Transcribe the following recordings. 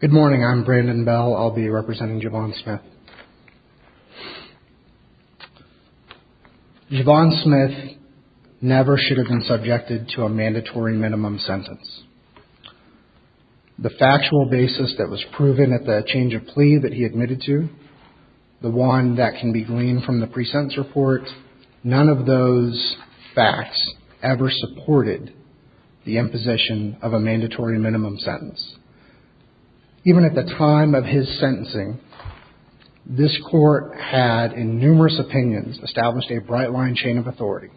Good morning. I'm Brandon Bell. I'll be representing Javon Smith. Javon Smith never should have been subjected to a mandatory minimum sentence. The factual basis that was proven at the change plea that he admitted to, the one that can be gleaned from the pre-sentence report, none of those facts ever supported the imposition of a mandatory minimum sentence. Even at the time of his sentencing, this court had, in numerous opinions, established a bright line chain of authority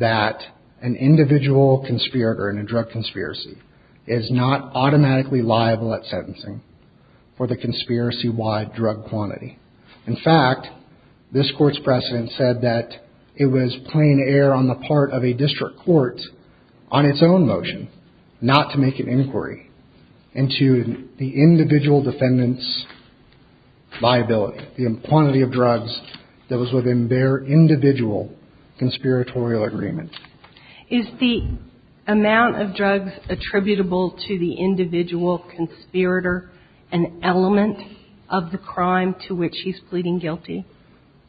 that an individual conspirator in a drug conspiracy is not automatically liable at sentencing for the conspiracy-wide drug quantity. In fact, this court's precedent said that it was plain air on the part of a district court, on its own motion, not to make an inquiry into the individual defendant's liability, the quantity of drugs that was within their individual conspiratorial agreement. Is the amount of drugs attributable to the individual conspirator an element of the crime to which he's pleading guilty?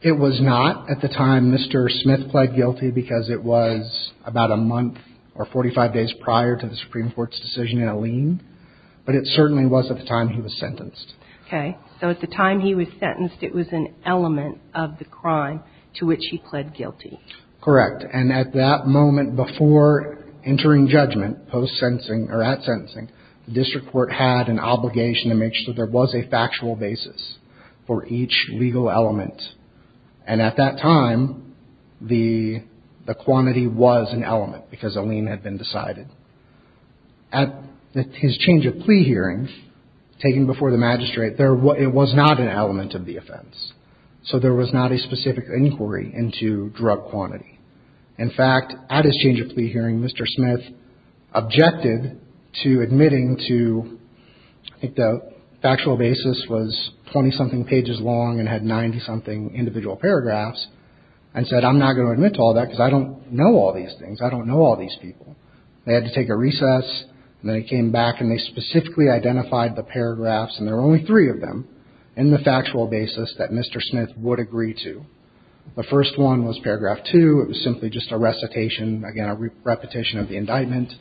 It was not at the time Mr. Smith pled guilty because it was about a month or 45 days prior to the Supreme Court's decision in a lien, but it certainly was at the time he was sentenced. Okay. So at the time he was sentenced, it was an element of the crime to which he pled guilty. Correct. And at that moment before entering judgment, post-sentencing, or at sentencing, the district court had an obligation to make sure there was a factual basis for each legal element. And at that time, the quantity was an element because a lien had been decided. At his change of plea hearing, taken before the magistrate, it was not an element of the offense, so there was not a specific inquiry into drug quantity. In fact, at his change of plea hearing, Mr. Smith objected to admitting to, I think the factual basis was 20-something pages long and had 90-something individual paragraphs, and said, I'm not going to admit to all that because I don't know all these things. I don't know all these people. They had to take a recess, and then they came back and they specifically identified the paragraphs, and there were only three of them, in the factual basis that Mr. Smith would agree to. The first one was paragraph two. It was simply just a recitation, again, a repetition of the indictment.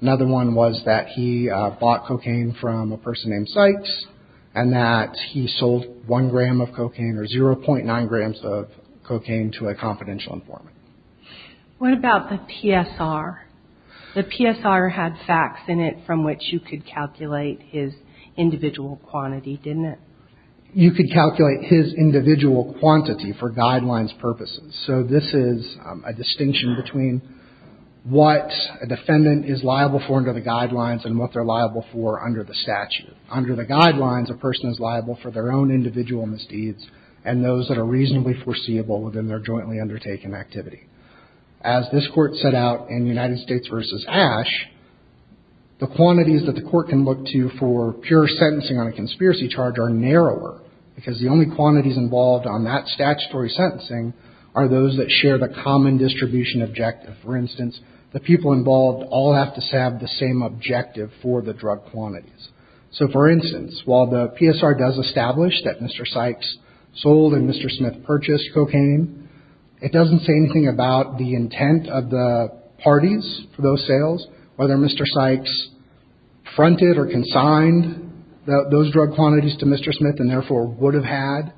Another one was that he bought cocaine from a person named Sykes, and that he sold one gram of cocaine, or 0.9 grams of cocaine, to a confidential informant. What about the PSR? The PSR had facts in it from which you could calculate his individual quantity, didn't it? You could calculate his individual quantity for guidelines purposes. So this is a distinction between what a defendant is liable for under the guidelines and what they're liable for under the statute. Under the guidelines, a person is liable for their own individual misdeeds and those that are reasonably foreseeable within their jointly undertaken activity. As this court set out in United States v. Ash, the quantities that the court can look to for pure sentencing on a conspiracy charge are narrower, because the only quantities involved on that statutory sentencing are those that share the common distribution objective. For instance, the people involved all have to have the same objective for the drug quantities. So for instance, while the PSR does establish that Mr. Sykes sold and Mr. Smith purchased cocaine, it doesn't say anything about the intent of the parties for those sales, whether Mr. Sykes fronted or consigned those drug quantities to Mr. Smith and therefore would have had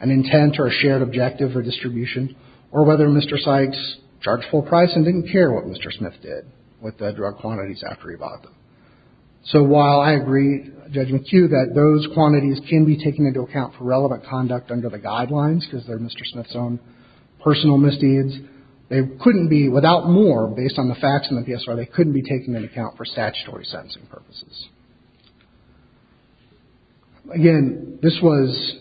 an intent or a shared objective for distribution, or whether Mr. Sykes charged full price and didn't care what Mr. Smith did with the drug quantities after he bought them. So while I agree, Judge McHugh, that those quantities can be taken into account for relevant conduct under the guidelines, because they're Mr. Smith's own personal misdeeds, they couldn't be, without more, based on the facts in the PSR, they couldn't be taken into account for statutory sentencing purposes. Again, this was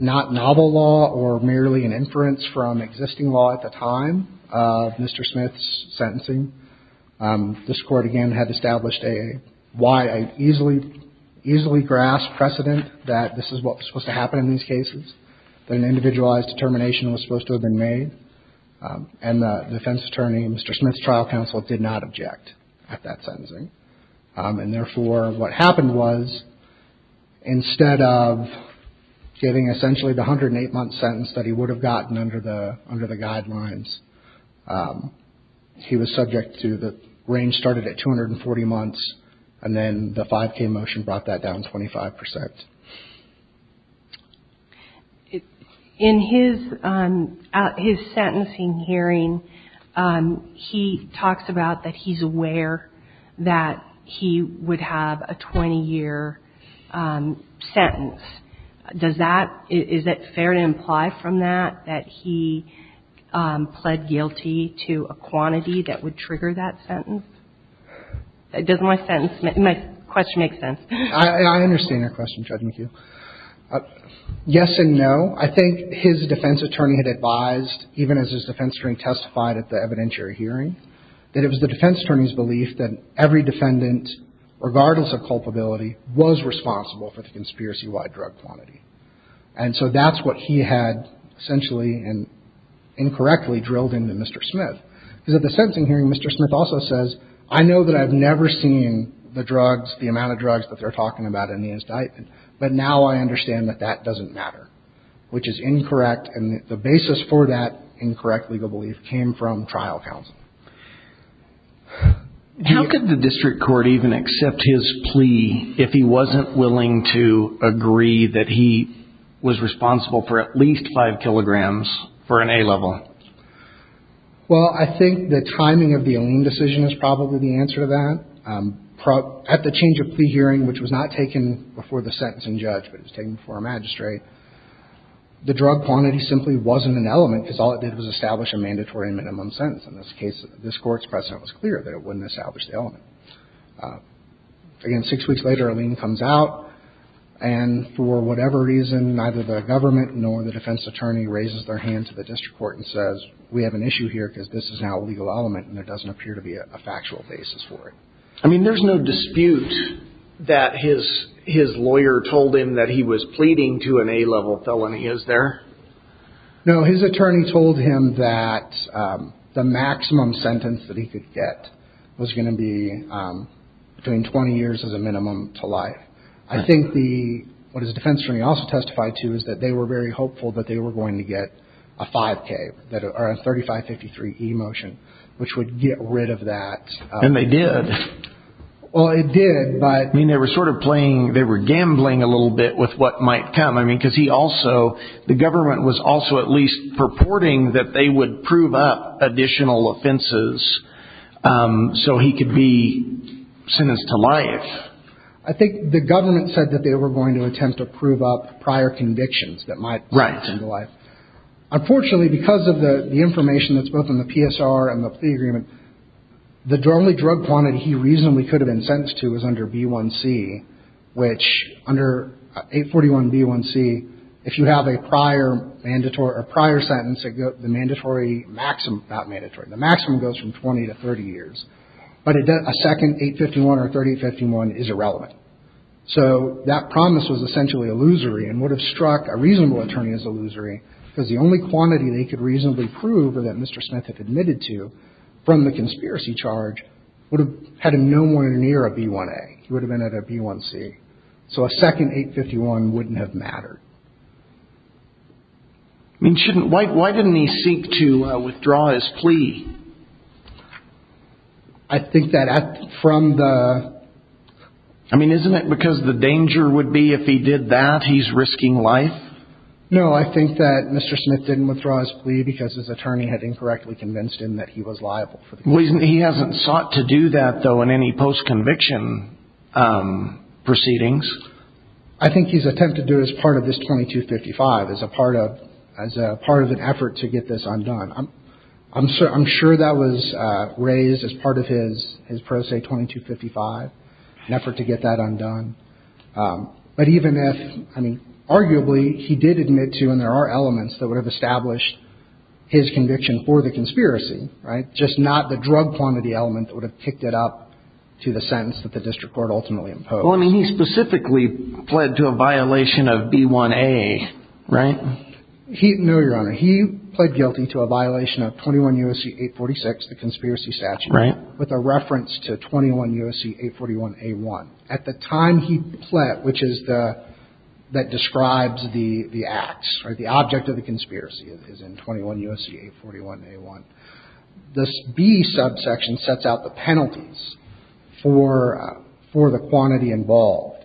not novel law or merely an inference from existing law at the time of Mr. Smith's sentencing. This Court, again, had established a wide, easily grasped precedent that this is what was supposed to happen in these cases, that an individualized determination was supposed to have been made, and the defense attorney, Mr. Smith's trial counsel, did not object at that sentencing. And therefore, what happened was, instead of giving essentially the 108-month sentence that he would have gotten under the guidelines, he was subject to the range started at 240 months, and then the 5K motion brought that down 25%. In his sentencing hearing, he talks about that he's aware that he would have a 20-year sentence. Does that – is it fair to imply from that that he pled guilty to a quantity that would trigger that sentence? Does my sentence – my question make sense? I understand your question, Judge McHugh. Yes and no. I think his defense attorney had advised, even as his defense attorney testified at the evidentiary hearing, that it was the defense attorney's belief that every defendant, regardless of culpability, was responsible for the conspiracy-wide drug quantity. And so that's what he had essentially and incorrectly drilled into Mr. Smith. Because at the sentencing hearing, Mr. Smith also says, I know that I've never seen the drugs, the amount of drugs that they're talking about in the indictment, but now I understand that that doesn't matter, which is incorrect. And the basis for that incorrect legal belief came from trial counsel. How could the district court even accept his plea if he wasn't willing to agree that he was responsible for at least 5 kilograms for an A-level? Well, I think the timing of the Aleem decision is probably the answer to that. At the change of plea hearing, which was not taken before the sentencing judge, but it was taken before a magistrate, the drug quantity simply wasn't an element because all it did was establish a mandatory minimum sentence. In this case, this Court's precedent was clear that it wouldn't establish the element. Again, six weeks later, Aleem comes out, and for whatever reason, neither the government nor the defense attorney raises their hand to the district court and says, we have an issue here because this is now a legal element and there doesn't appear to be a factual basis for it. I mean, there's no dispute that his lawyer told him that he was pleading to an A-level felony, is there? No, his attorney told him that the maximum sentence that he could get was going to be between 20 years as a minimum to life. I think what his defense attorney also testified to is that they were very hopeful that they were going to get a 5K, or a 3553E motion, which would get rid of that. And they did. Well, it did, but... I mean, they were sort of playing, they were gambling a little bit with what might come. I mean, because he also, the government was also at least purporting that they would prove up additional offenses so he could be sentenced to life. I think the government said that they were going to attempt to prove up prior convictions that might come to life. Unfortunately, because of the information that's both in the PSR and the plea agreement, the only drug quantity he reasonably could have been sentenced to was under B1C, which under 841B1C, if you have a prior mandatory or prior sentence, the mandatory maximum, not mandatory, the maximum goes from 20 to 30 years. But a second 851 or 3851 is irrelevant. So that promise was essentially illusory and would have struck a reasonable attorney as illusory, because the only quantity they could reasonably prove, or that Mr. Smith had admitted to, from the conspiracy charge, would have had him nowhere near a B1A. He would have been at a B1C. So a second 851 wouldn't have mattered. I mean, why didn't he seek to withdraw his plea? I think that from the... I mean, isn't it because the danger would be if he did that, he's risking life? No, I think that Mr. Smith didn't withdraw his plea because his attorney had incorrectly convinced him that he was liable. He hasn't sought to do that, though, in any post-conviction proceedings? I think he's attempted to do it as part of this 2255, as a part of an effort to get this undone. I'm sure that was raised as part of his pro se 2255, an effort to get that undone. But even if, I mean, arguably he did admit to, and there are elements that would have established his conviction for the conspiracy, just not the drug quantity element that would have picked it up to the sentence that the district court ultimately imposed. Well, I mean, he specifically pled to a violation of B1A, right? No, Your Honor. He pled guilty to a violation of 21 U.S.C. 846, the conspiracy statute, with a reference to 21 U.S.C. 841A1. At the time he pled, which is the, that describes the acts, right? The object of the conspiracy is in 21 U.S.C. 841A1. This B subsection sets out the penalties for the quantity involved.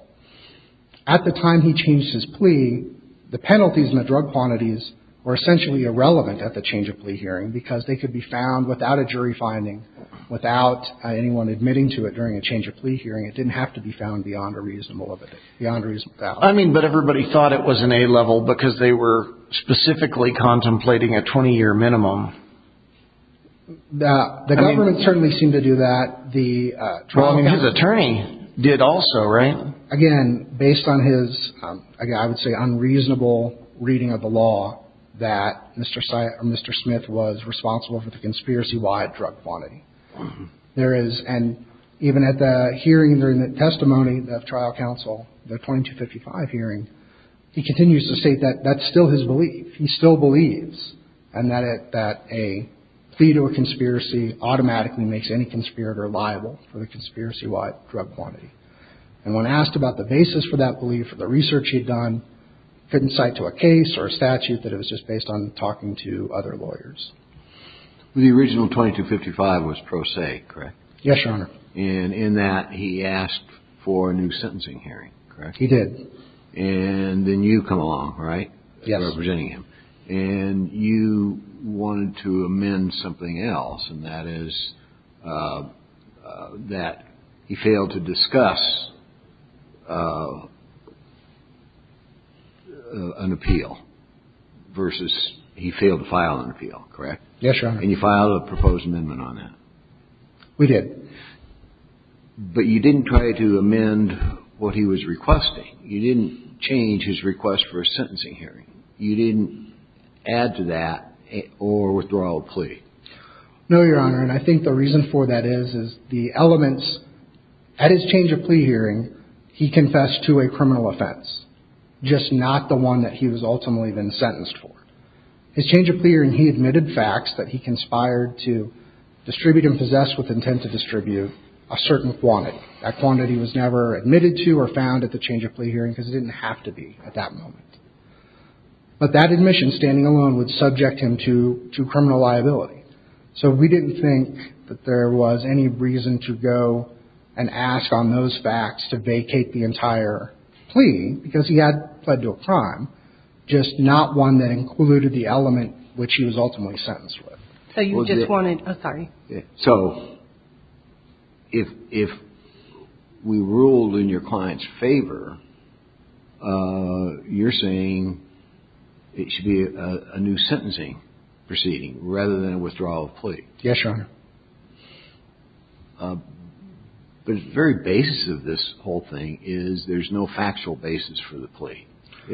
At the time he changed his plea, the penalties and the drug quantities were essentially irrelevant at the change of plea hearing because they could be found without a jury finding, without anyone admitting to it during a change of plea hearing. It didn't have to be found beyond a reasonable limit, beyond a reasonable value. I mean, but everybody thought it was an A-level because they were specifically contemplating a 20-year minimum. The government certainly seemed to do that. Well, I mean, his attorney did also, right? Again, based on his, I would say, unreasonable reading of the law, that Mr. Smith was responsible for the conspiracy-wide drug quantity. There is, and even at the hearing during the testimony of trial counsel, the 2255 hearing, he continues to state that that's still his belief. He still believes that a plea to a conspiracy automatically makes any conspirator liable for the conspiracy-wide drug quantity. And when asked about the basis for that belief or the research he had done, couldn't cite to a case or a statute that it was just based on talking to other lawyers. The original 2255 was pro se, correct? Yes, Your Honor. And in that, he asked for a new sentencing hearing, correct? He did. And then you come along, right? Yes. Representing him. And you wanted to amend something else, and that is that he failed to discuss an appeal versus he failed to file an appeal, correct? Yes, Your Honor. And you filed a proposed amendment on that. We did. But you didn't try to amend what he was requesting. You didn't change his request for a sentencing hearing. You didn't add to that or withdraw a plea. No, Your Honor, and I think the reason for that is, is the elements. At his change of plea hearing, he confessed to a criminal offense, just not the one that he was ultimately then sentenced for. His change of plea hearing, he admitted facts that he conspired to distribute and possess with intent to distribute a certain quantity. That quantity was never admitted to or found at the change of plea hearing because it didn't have to be at that moment. But that admission, standing alone, would subject him to criminal liability. So we didn't think that there was any reason to go and ask on those facts to vacate the entire plea because he had pled to a crime, just not one that included the element which he was ultimately sentenced with. So you just wanted – oh, sorry. So if we ruled in your client's favor, you're saying it should be a new sentencing proceeding rather than a withdrawal of plea. Yes, Your Honor. The very basis of this whole thing is there's no factual basis for the plea.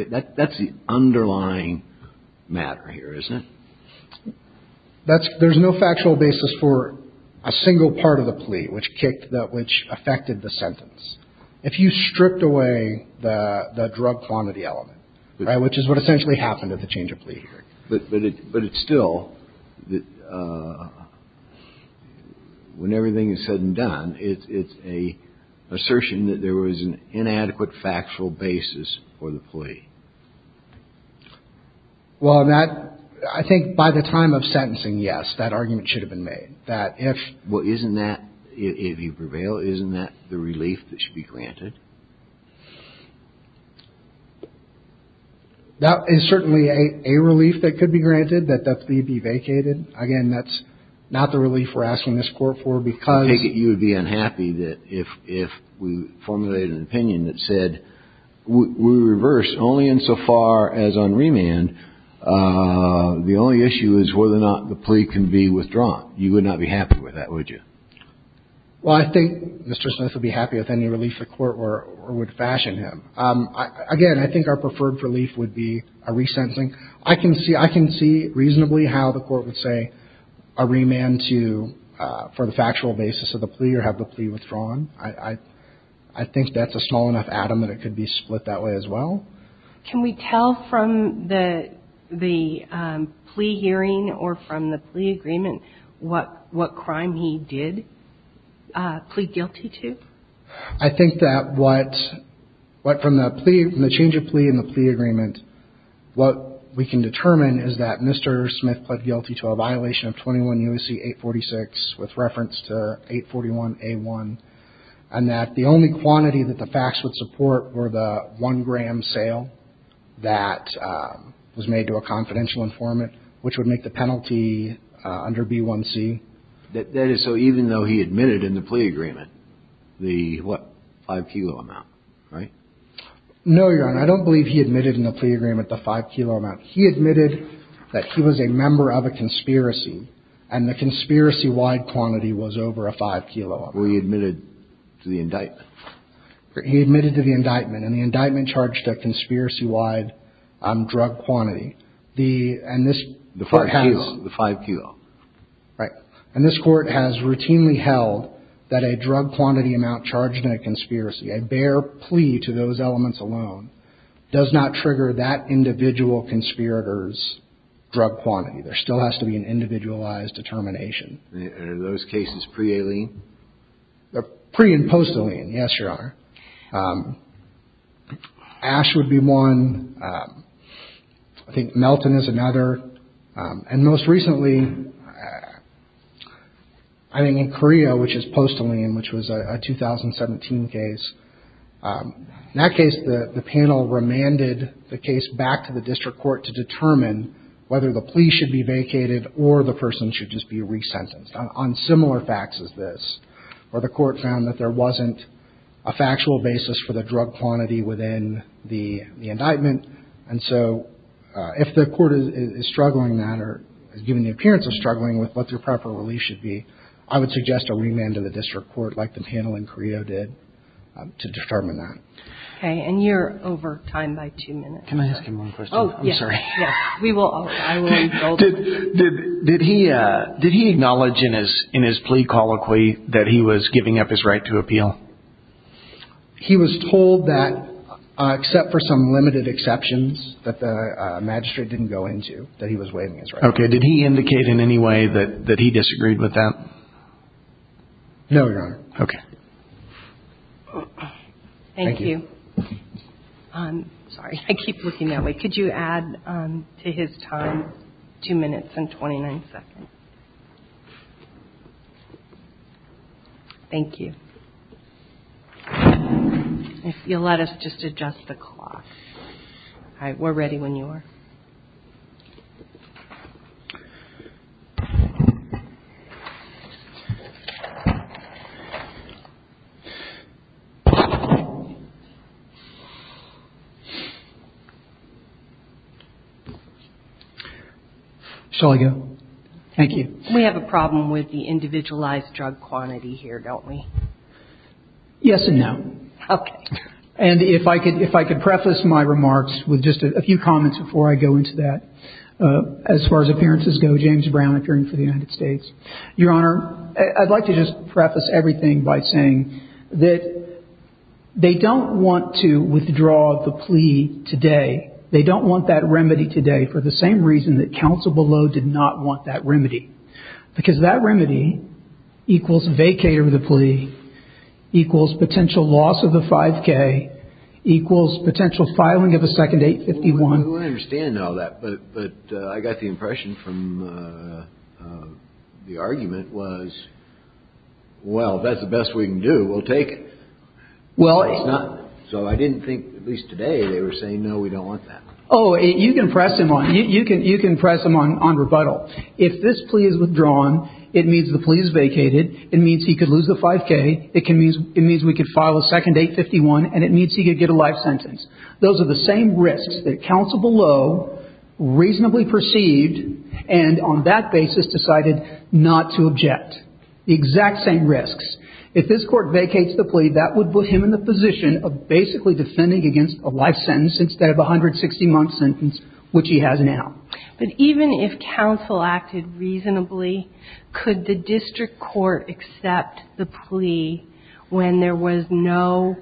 That's the underlying matter here, isn't it? There's no factual basis for a single part of the plea which affected the sentence. If you stripped away the drug quantity element, which is what essentially happened at the change of plea hearing. But it's still, when everything is said and done, it's an assertion that there was an inadequate factual basis for the plea. Well, that – I think by the time of sentencing, yes, that argument should have been made. That if – Well, isn't that – if you prevail, isn't that the relief that should be granted? That is certainly a relief that could be granted, that the plea be vacated. Again, that's not the relief we're asking this Court for because – Well, I think Mr. Smith would be happy with any relief the Court would fashion him. Again, I think our preferred relief would be a resentencing. I can see – I can see reasonably how the Court would say a remand to – for the factual basis of the plea or have the plea withdrawn. I think that's a small enough atom that it could be split that way as well. Can we tell from the – the plea hearing or from the plea agreement what – what crime he did plead guilty to? I think that what – what from the plea – from the change of plea and the plea agreement, what we can determine is that Mr. Smith pled guilty to a violation of 21 U.S.C. 846 with reference to 841A1, and that the only quantity that the facts would support were the one-gram sale that was made to a confidential informant, which would make the penalty under B1C. That is so even though he admitted in the plea agreement the, what, five-kilo amount, right? No, Your Honor. I don't believe he admitted in the plea agreement the five-kilo amount. He admitted that he was a member of a conspiracy, and the conspiracy-wide quantity was over a five-kilo amount. Well, he admitted to the indictment. He admitted to the indictment, and the indictment charged a conspiracy-wide drug quantity. The – and this – The five-kilo. The five-kilo. Right. And this Court has routinely held that a drug-quantity amount charged in a conspiracy, a bare plea to those elements alone, does not trigger that individual conspirator's drug quantity. There still has to be an individualized determination. Are those cases pre-Alene? They're pre- and post-Alene, yes, Your Honor. Ash would be one. I think Melton is another. And most recently, I think in Korea, which is post-Alene, which was a 2017 case, in that case the panel remanded the case back to the district court to determine whether the plea should be vacated or the person should just be resentenced on similar facts as this, where the Court found that there wasn't a factual basis for the drug quantity within the indictment. And so if the Court is struggling that or has given the appearance of struggling with what their proper relief should be, I would suggest a remand to the district court like the panel in Korea did to determine that. Okay. And you're over time by two minutes. Can I ask him one question? Oh, yes. I'm sorry. Yes. I will indulge him. Did he acknowledge in his plea colloquy that he was giving up his right to appeal? He was told that, except for some limited exceptions that the magistrate didn't go into, that he was waiving his right. Okay. Did he indicate in any way that he disagreed with that? No, Your Honor. Okay. Thank you. Sorry. I keep looking that way. Could you add to his time two minutes and 29 seconds? Thank you. If you'll let us just adjust the clock. All right. Shall I go? Thank you. We have a problem with the individualized drug quantity here, don't we? Yes and no. Okay. And if I could preface my remarks with just a few comments before I go into that. As far as appearances go, James Brown, appearing for the United States. Your Honor, I'd like to just preface everything by saying that they don't want to withdraw the plea today They don't want that remedy today for the same reason that counsel below did not want that remedy. Because that remedy equals vacate of the plea, equals potential loss of the 5K, equals potential filing of a second 851. We understand all that. But I got the impression from the argument was, well, that's the best we can do. We'll take it. Well, it's not. So I didn't think, at least today, they were saying, no, we don't want that. Oh, you can press him on. You can press him on rebuttal. If this plea is withdrawn, it means the plea is vacated. It means he could lose the 5K. It means we could file a second 851, and it means he could get a life sentence. Those are the same risks that counsel below reasonably perceived and on that basis decided not to object. The exact same risks. If this court vacates the plea, that would put him in the position of basically defending against a life sentence instead of a 160-month sentence, which he has now. But even if counsel acted reasonably, could the district court accept the plea when there was no,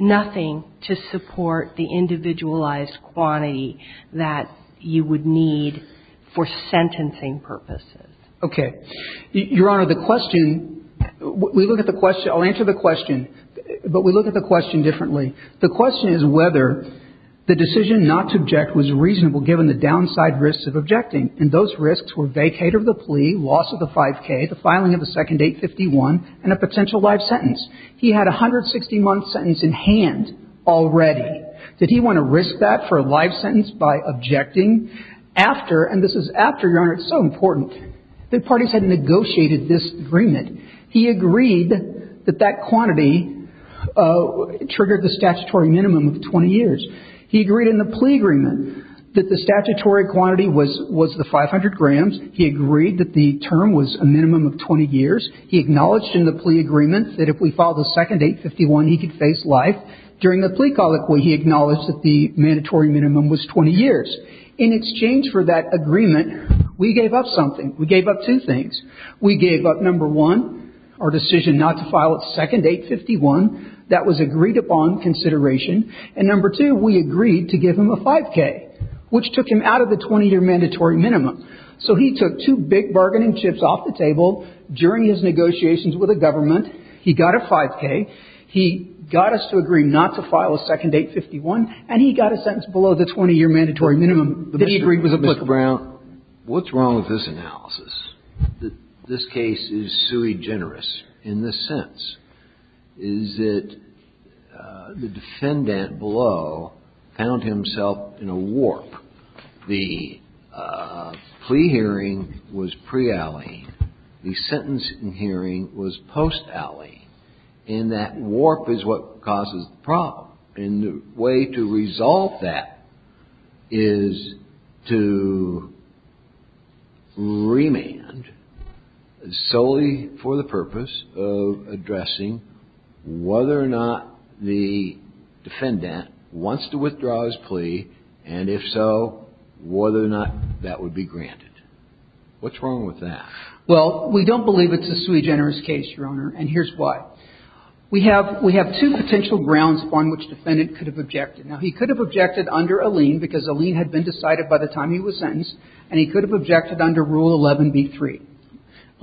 nothing to support the individualized quantity that you would need for sentencing purposes? Okay. Your Honor, the question, we look at the question, I'll answer the question, but we look at the question differently. The question is whether the decision not to object was reasonable given the downside risks of objecting. And those risks were vacated of the plea, loss of the 5K, the filing of the second 851, and a potential life sentence. He had a 160-month sentence in hand already. Did he want to risk that for a life sentence by objecting after, and this is after, Your Honor, it's so important, the parties had negotiated this agreement. He agreed that that quantity triggered the statutory minimum of 20 years. He agreed in the plea agreement that the statutory quantity was the 500 grams. He agreed that the term was a minimum of 20 years. He acknowledged in the plea agreement that if we filed the second 851, he could face life. During the plea colloquy, he acknowledged that the mandatory minimum was 20 years. In exchange for that agreement, we gave up something. We gave up two things. We gave up, number one, our decision not to file a second 851. That was agreed upon consideration. And number two, we agreed to give him a 5K, which took him out of the 20-year mandatory minimum. So he took two big bargaining chips off the table during his negotiations with the government. He got a 5K. He got us to agree not to file a second 851. And he got a sentence below the 20-year mandatory minimum that he agreed was applicable. Kennedy. Mr. Brown, what's wrong with this analysis? This case is sui generis in this sense. Is it the defendant below found himself in a warp? The plea hearing was pre-Alley. The sentencing hearing was post-Alley. And that warp is what causes the problem. And the way to resolve that is to remand solely for the purpose of addressing whether or not the defendant wants to withdraw his plea, and if so, whether or not that would be granted. What's wrong with that? Well, we don't believe it's a sui generis case, Your Honor. And here's why. We have two potential grounds upon which the defendant could have objected. Now, he could have objected under Alleyne because Alleyne had been decided by the time he was sentenced, and he could have objected under Rule 11b-3.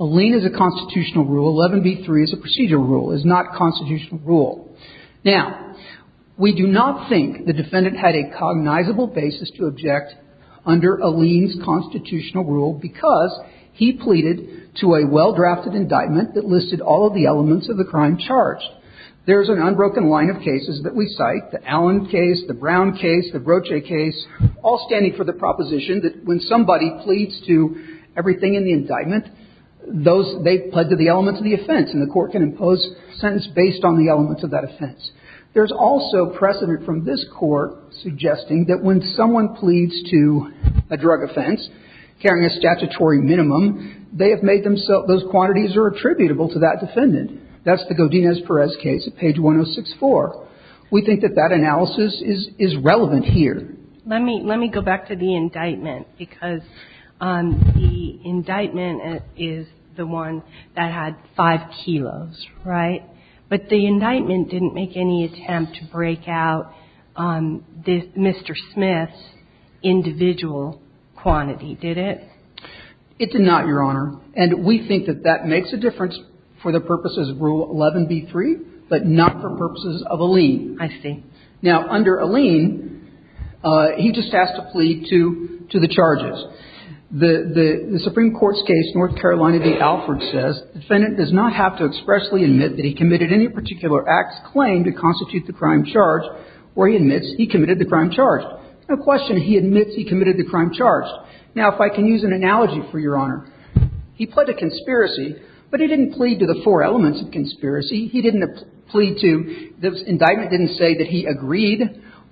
Alleyne is a constitutional rule. 11b-3 is a procedural rule. It's not a constitutional rule. Now, we do not think the defendant had a cognizable basis to object under Alleyne's constitutional rule because he pleaded to a well-drafted indictment that listed all of the elements of the crime charged. There's an unbroken line of cases that we cite, the Allen case, the Brown case, the Broche case, all standing for the proposition that when somebody pleads to everything in the indictment, those they've pled to the elements of the offense. And the Court can impose a sentence based on the elements of that offense. There's also precedent from this Court suggesting that when someone pleads to a drug offense, carrying a statutory minimum, they have made themselves, those quantities are attributable to that defendant. That's the Godinez-Perez case at page 106-4. We think that that analysis is relevant here. Let me go back to the indictment because the indictment is the one that had five kilos, right? But the indictment didn't make any attempt to break out Mr. Smith's individual quantity, did it? It did not, Your Honor. And we think that that makes a difference for the purposes of Rule 11b-3, but not for purposes of Alleyne. I see. Now, under Alleyne, he just has to plead to the charges. The Supreme Court's case, North Carolina v. Alford, says the defendant does not have to expressly admit that he committed any particular act's claim to constitute the crime charged, or he admits he committed the crime charged. No question he admits he committed the crime charged. Now, if I can use an analogy for Your Honor. He pled to conspiracy, but he didn't plead to the four elements of conspiracy. He didn't plead to the indictment didn't say that he agreed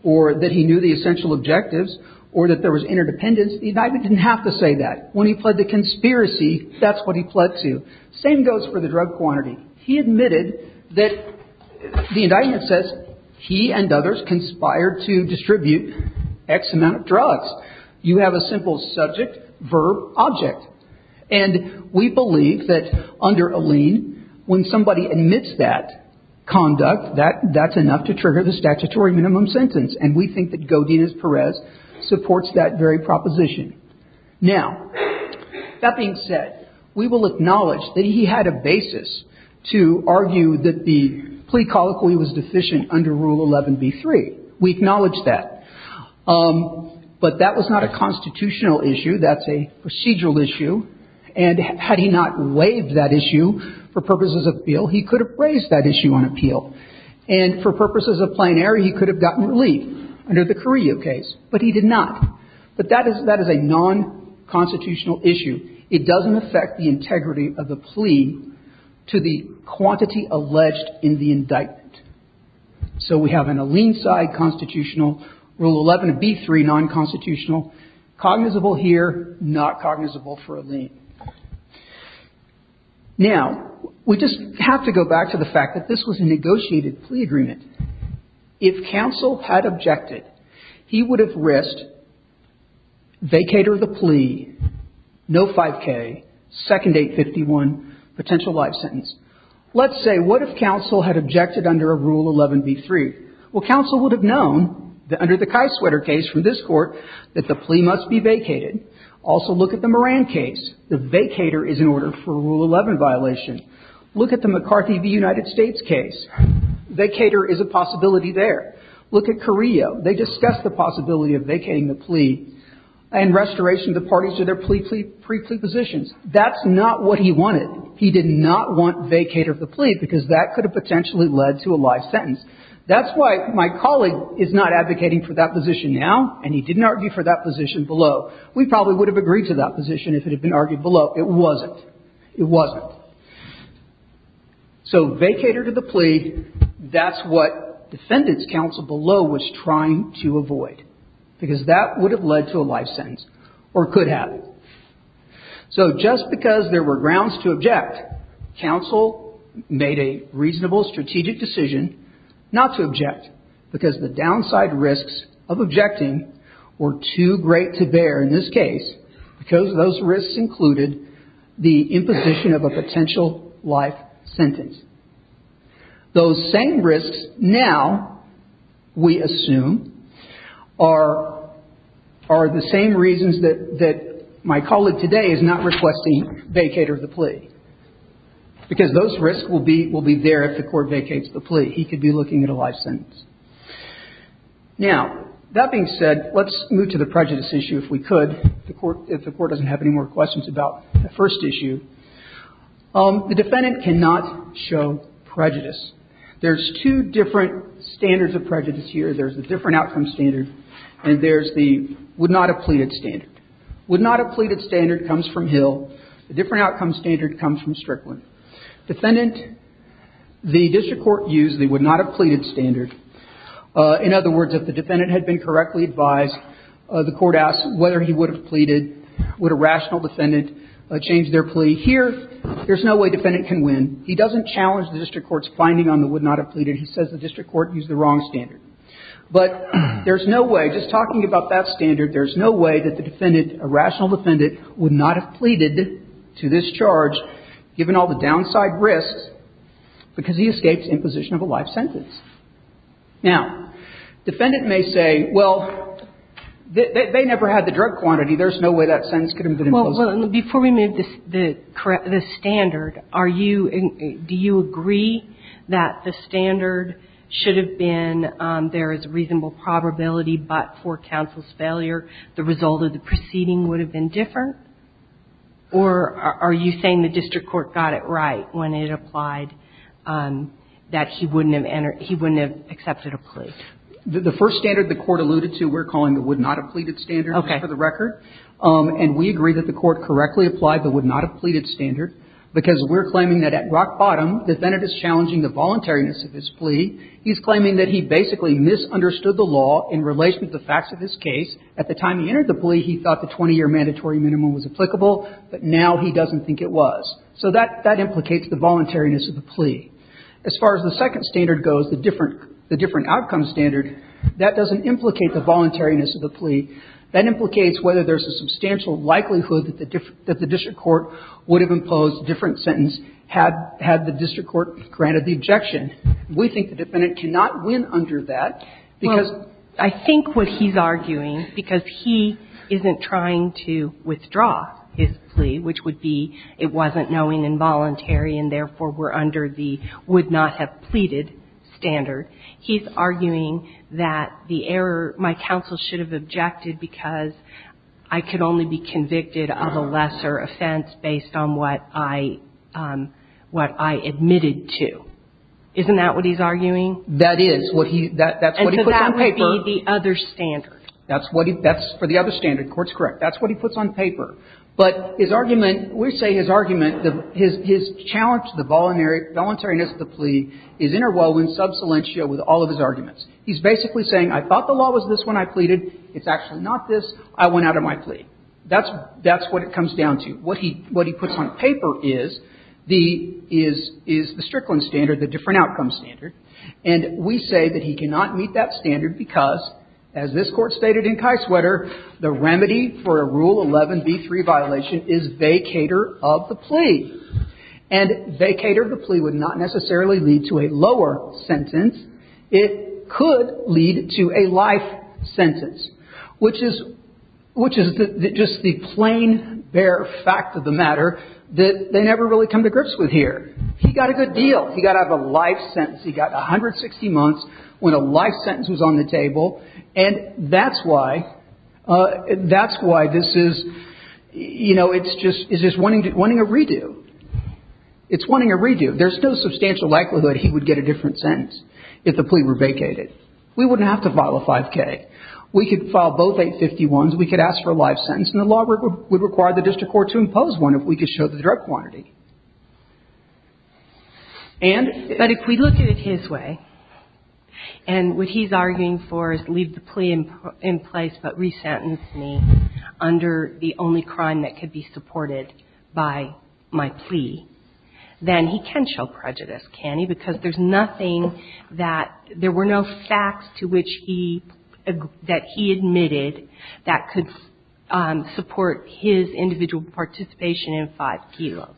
or that he knew the essential objectives or that there was interdependence. The indictment didn't have to say that. When he pled to conspiracy, that's what he pled to. Same goes for the drug quantity. He admitted that the indictment says he and others conspired to distribute X amount of drugs. You have a simple subject, verb, object. And we believe that under Alleyne, when somebody admits that conduct, that's enough to trigger the statutory minimum sentence. And we think that Godinez-Perez supports that very proposition. Now, that being said, we will acknowledge that he had a basis to argue that the plea colloquy was deficient under Rule 11b-3. We acknowledge that. But that was not a constitutional issue. That's a procedural issue. And had he not waived that issue for purposes of appeal, he could have raised that issue on appeal. And for purposes of plenary, he could have gotten relief under the Carrillo case. But he did not. But that is a nonconstitutional issue. It doesn't affect the integrity of the plea to the quantity alleged in the indictment. So we have an Alleyne side constitutional, Rule 11b-3 nonconstitutional, cognizable here, not cognizable for Alleyne. Now, we just have to go back to the fact that this was a negotiated plea agreement. If counsel had objected, he would have risked vacator of the plea, no 5K, second 851, potential life sentence. Let's say, what if counsel had objected under a Rule 11b-3? Well, counsel would have known that under the Kieswetter case from this Court that the plea must be vacated. Also, look at the Moran case. The vacator is in order for a Rule 11 violation. Look at the McCarthy v. United States case. Vacator is a possibility there. Look at Carrillo. They discussed the possibility of vacating the plea and restoration of the parties to their pre-plea positions. That's not what he wanted. He did not want vacator of the plea, because that could have potentially led to a life sentence. That's why my colleague is not advocating for that position now, and he didn't argue for that position below. We probably would have agreed to that position if it had been argued below. It wasn't. It wasn't. So vacator to the plea, that's what defendant's counsel below was trying to avoid, because that would have led to a life sentence or could have. So just because there were grounds to object, counsel made a reasonable strategic decision not to object, because the downside risks of objecting were too great to bear in this case, because those risks included the imposition of a potential life sentence. Those same risks now, we assume, are the same reasons that my colleague today is not requesting vacator of the plea, because those risks will be there if the court vacates the plea. Now, that being said, let's move to the prejudice issue, if we could, if the court doesn't have any more questions about the first issue. The defendant cannot show prejudice. There's two different standards of prejudice here. There's the different outcome standard, and there's the would not have pleaded standard. Would not have pleaded standard comes from Hill. The different outcome standard comes from Strickland. Defendant, the district court used the would not have pleaded standard. In other words, if the defendant had been correctly advised, the court asked whether he would have pleaded, would a rational defendant change their plea. Here, there's no way defendant can win. He doesn't challenge the district court's finding on the would not have pleaded. He says the district court used the wrong standard. But there's no way, just talking about that standard, there's no way that the defendant, a rational defendant, would not have pleaded to this charge, given all the downside risks, because he escapes imposition of a life sentence. Now, defendant may say, well, they never had the drug quantity. There's no way that sentence could have been imposed. Well, before we move to the standard, are you, do you agree that the standard should have been there is a reasonable probability, but for counsel's failure, the result of the proceeding would have been different? Or are you saying the district court got it right when it applied that he wouldn't have entered, he wouldn't have accepted a plea? The first standard the court alluded to, we're calling the would not have pleaded standard for the record. Okay. And we agree that the court correctly applied the would not have pleaded standard, because we're claiming that at rock bottom, defendant is challenging the voluntariness of his plea. He's claiming that he basically misunderstood the law in relation to the facts of his case. At the time he entered the plea, he thought the 20-year mandatory minimum was applicable, but now he doesn't think it was. So that implicates the voluntariness of the plea. As far as the second standard goes, the different outcome standard, that doesn't implicate the voluntariness of the plea. That implicates whether there's a substantial likelihood that the district court would have imposed a different sentence had the district court granted the objection. We think the defendant cannot win under that, because the district court would have imposed a different sentence. Well, I think what he's arguing, because he isn't trying to withdraw his plea, which would be it wasn't knowing involuntary and therefore were under the would not have pleaded standard, he's arguing that the error, my counsel should have objected because I could only be convicted of a lesser offense based on what I, what I admitted to. Isn't that what he's arguing? That is. That's what he puts on paper. And so that would be the other standard. That's what he, that's for the other standard. Court's correct. That's what he puts on paper. But his argument, we say his argument, his challenge to the voluntariness of the plea is interwoven sub silentio with all of his arguments. He's basically saying I thought the law was this when I pleaded. It's actually not this. I went out of my plea. That's what it comes down to. What he, what he puts on paper is the, is, is the Strickland standard, the different outcome standard. And we say that he cannot meet that standard because, as this court stated in Kieswetter, the remedy for a Rule 11B3 violation is vacator of the plea. And vacator of the plea would not necessarily lead to a lower sentence. It could lead to a life sentence, which is, which is just the plain bare fact that the matter that they never really come to grips with here. He got a good deal. He got out of a life sentence. He got 160 months when a life sentence was on the table. And that's why, that's why this is, you know, it's just, it's just wanting to, wanting a redo. It's wanting a redo. There's no substantial likelihood he would get a different sentence if the plea were vacated. We wouldn't have to file a 5K. We could file both 851s. We could ask for a life sentence. And the law would require the district court to impose one if we could show the drug quantity. And if we look at it his way, and what he's arguing for is leave the plea in place but resentence me under the only crime that could be supported by my plea, then he can show prejudice, can he? Because there's nothing that there were no facts to which he, that he admitted that could support his individual participation in 5K.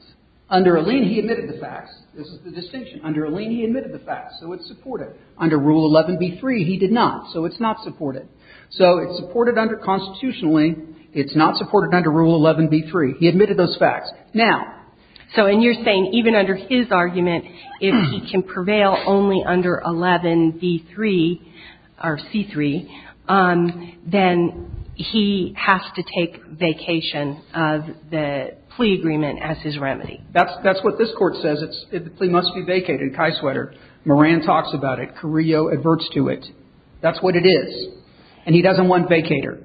Under a lien he admitted the facts. This is the distinction. Under a lien he admitted the facts. So it's supported. Under Rule 11B3 he did not. So it's not supported. So it's supported under constitutionally. It's not supported under Rule 11B3. He admitted those facts. Now. So and you're saying even under his argument if he can prevail only under 11B3 or C3, then he has to take vacation of the plea agreement as his remedy. That's what this court says. The plea must be vacated, Kai Sweater. Moran talks about it. Carrillo adverts to it. That's what it is. And he doesn't want vacater.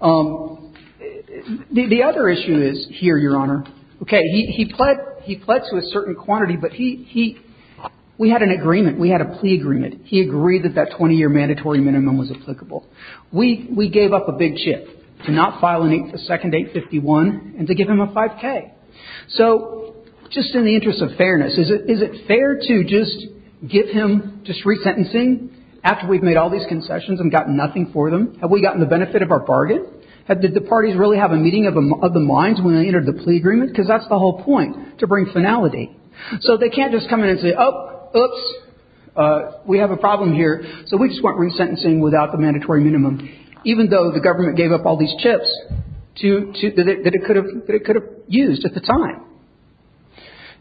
The other issue is here, Your Honor. Okay. He pled to a certain quantity, but he, we had an agreement. We had a plea agreement. He agreed that that 20-year mandatory minimum was applicable. We gave up a big chip to not file a second 851 and to give him a 5K. So just in the interest of fairness, is it fair to just give him just resentencing after we've made all these concessions and gotten nothing for them? Have we gotten the benefit of our bargain? Did the parties really have a meeting of the minds when they entered the plea agreement? Because that's the whole point, to bring finality. So they can't just come in and say, oh, oops, we have a problem here. So we just want resentencing without the mandatory minimum, even though the government gave up all these chips that it could have used at the time.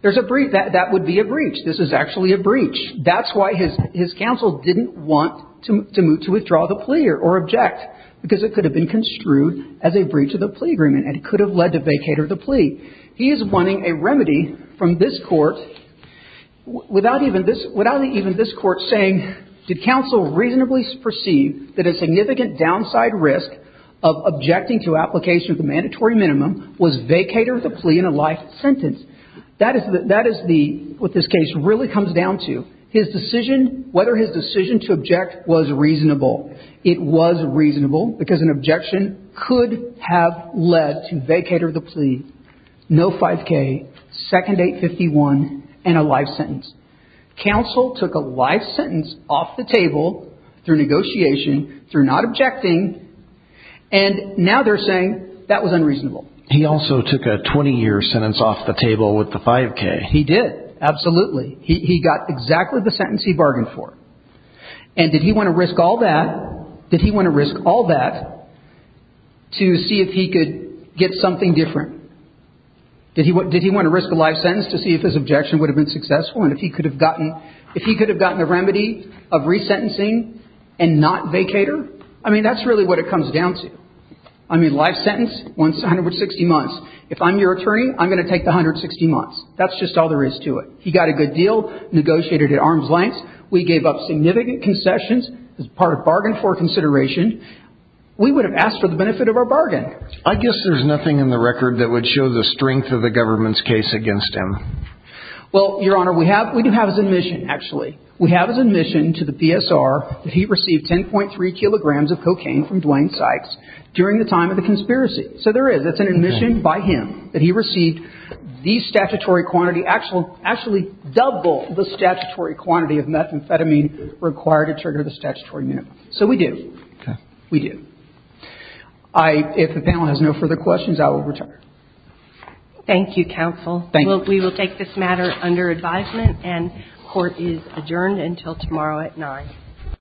There's a breach. That would be a breach. This is actually a breach. That's why his counsel didn't want to withdraw the plea or object, because it could have been construed as a breach of the plea agreement and could have led to vacater of the plea. He is wanting a remedy from this court without even this court saying, did counsel reasonably perceive that a significant downside risk of objecting to application of the mandatory minimum was vacater of the plea in a life sentence? That is what this case really comes down to. His decision, whether his decision to object was reasonable. It was reasonable, because an objection could have led to vacater of the plea. No 5K, second 851, and a life sentence. Counsel took a life sentence off the table through negotiation, through not objecting, and now they're saying that was unreasonable. He also took a 20-year sentence off the table with the 5K. He did, absolutely. He got exactly the sentence he bargained for. And did he want to risk all that? To see if he could get something different. Did he want to risk a life sentence to see if his objection would have been successful and if he could have gotten a remedy of resentencing and not vacater? I mean, that's really what it comes down to. I mean, life sentence, 160 months. If I'm your attorney, I'm going to take the 160 months. That's just all there is to it. He got a good deal, negotiated at arm's length. We gave up significant concessions as part of bargain for consideration. We would have asked for the benefit of our bargain. I guess there's nothing in the record that would show the strength of the government's case against him. Well, Your Honor, we do have his admission, actually. We have his admission to the PSR that he received 10.3 kilograms of cocaine from Dwayne Sykes during the time of the conspiracy. So there is. That's an admission by him that he received the statutory quantity, actually double the statutory quantity of methamphetamine required to trigger the statutory unit. So we do. Okay. We do. If the panel has no further questions, I will return. Thank you, counsel. Thank you. We will take this matter under advisement, and court is adjourned until tomorrow at 9.00.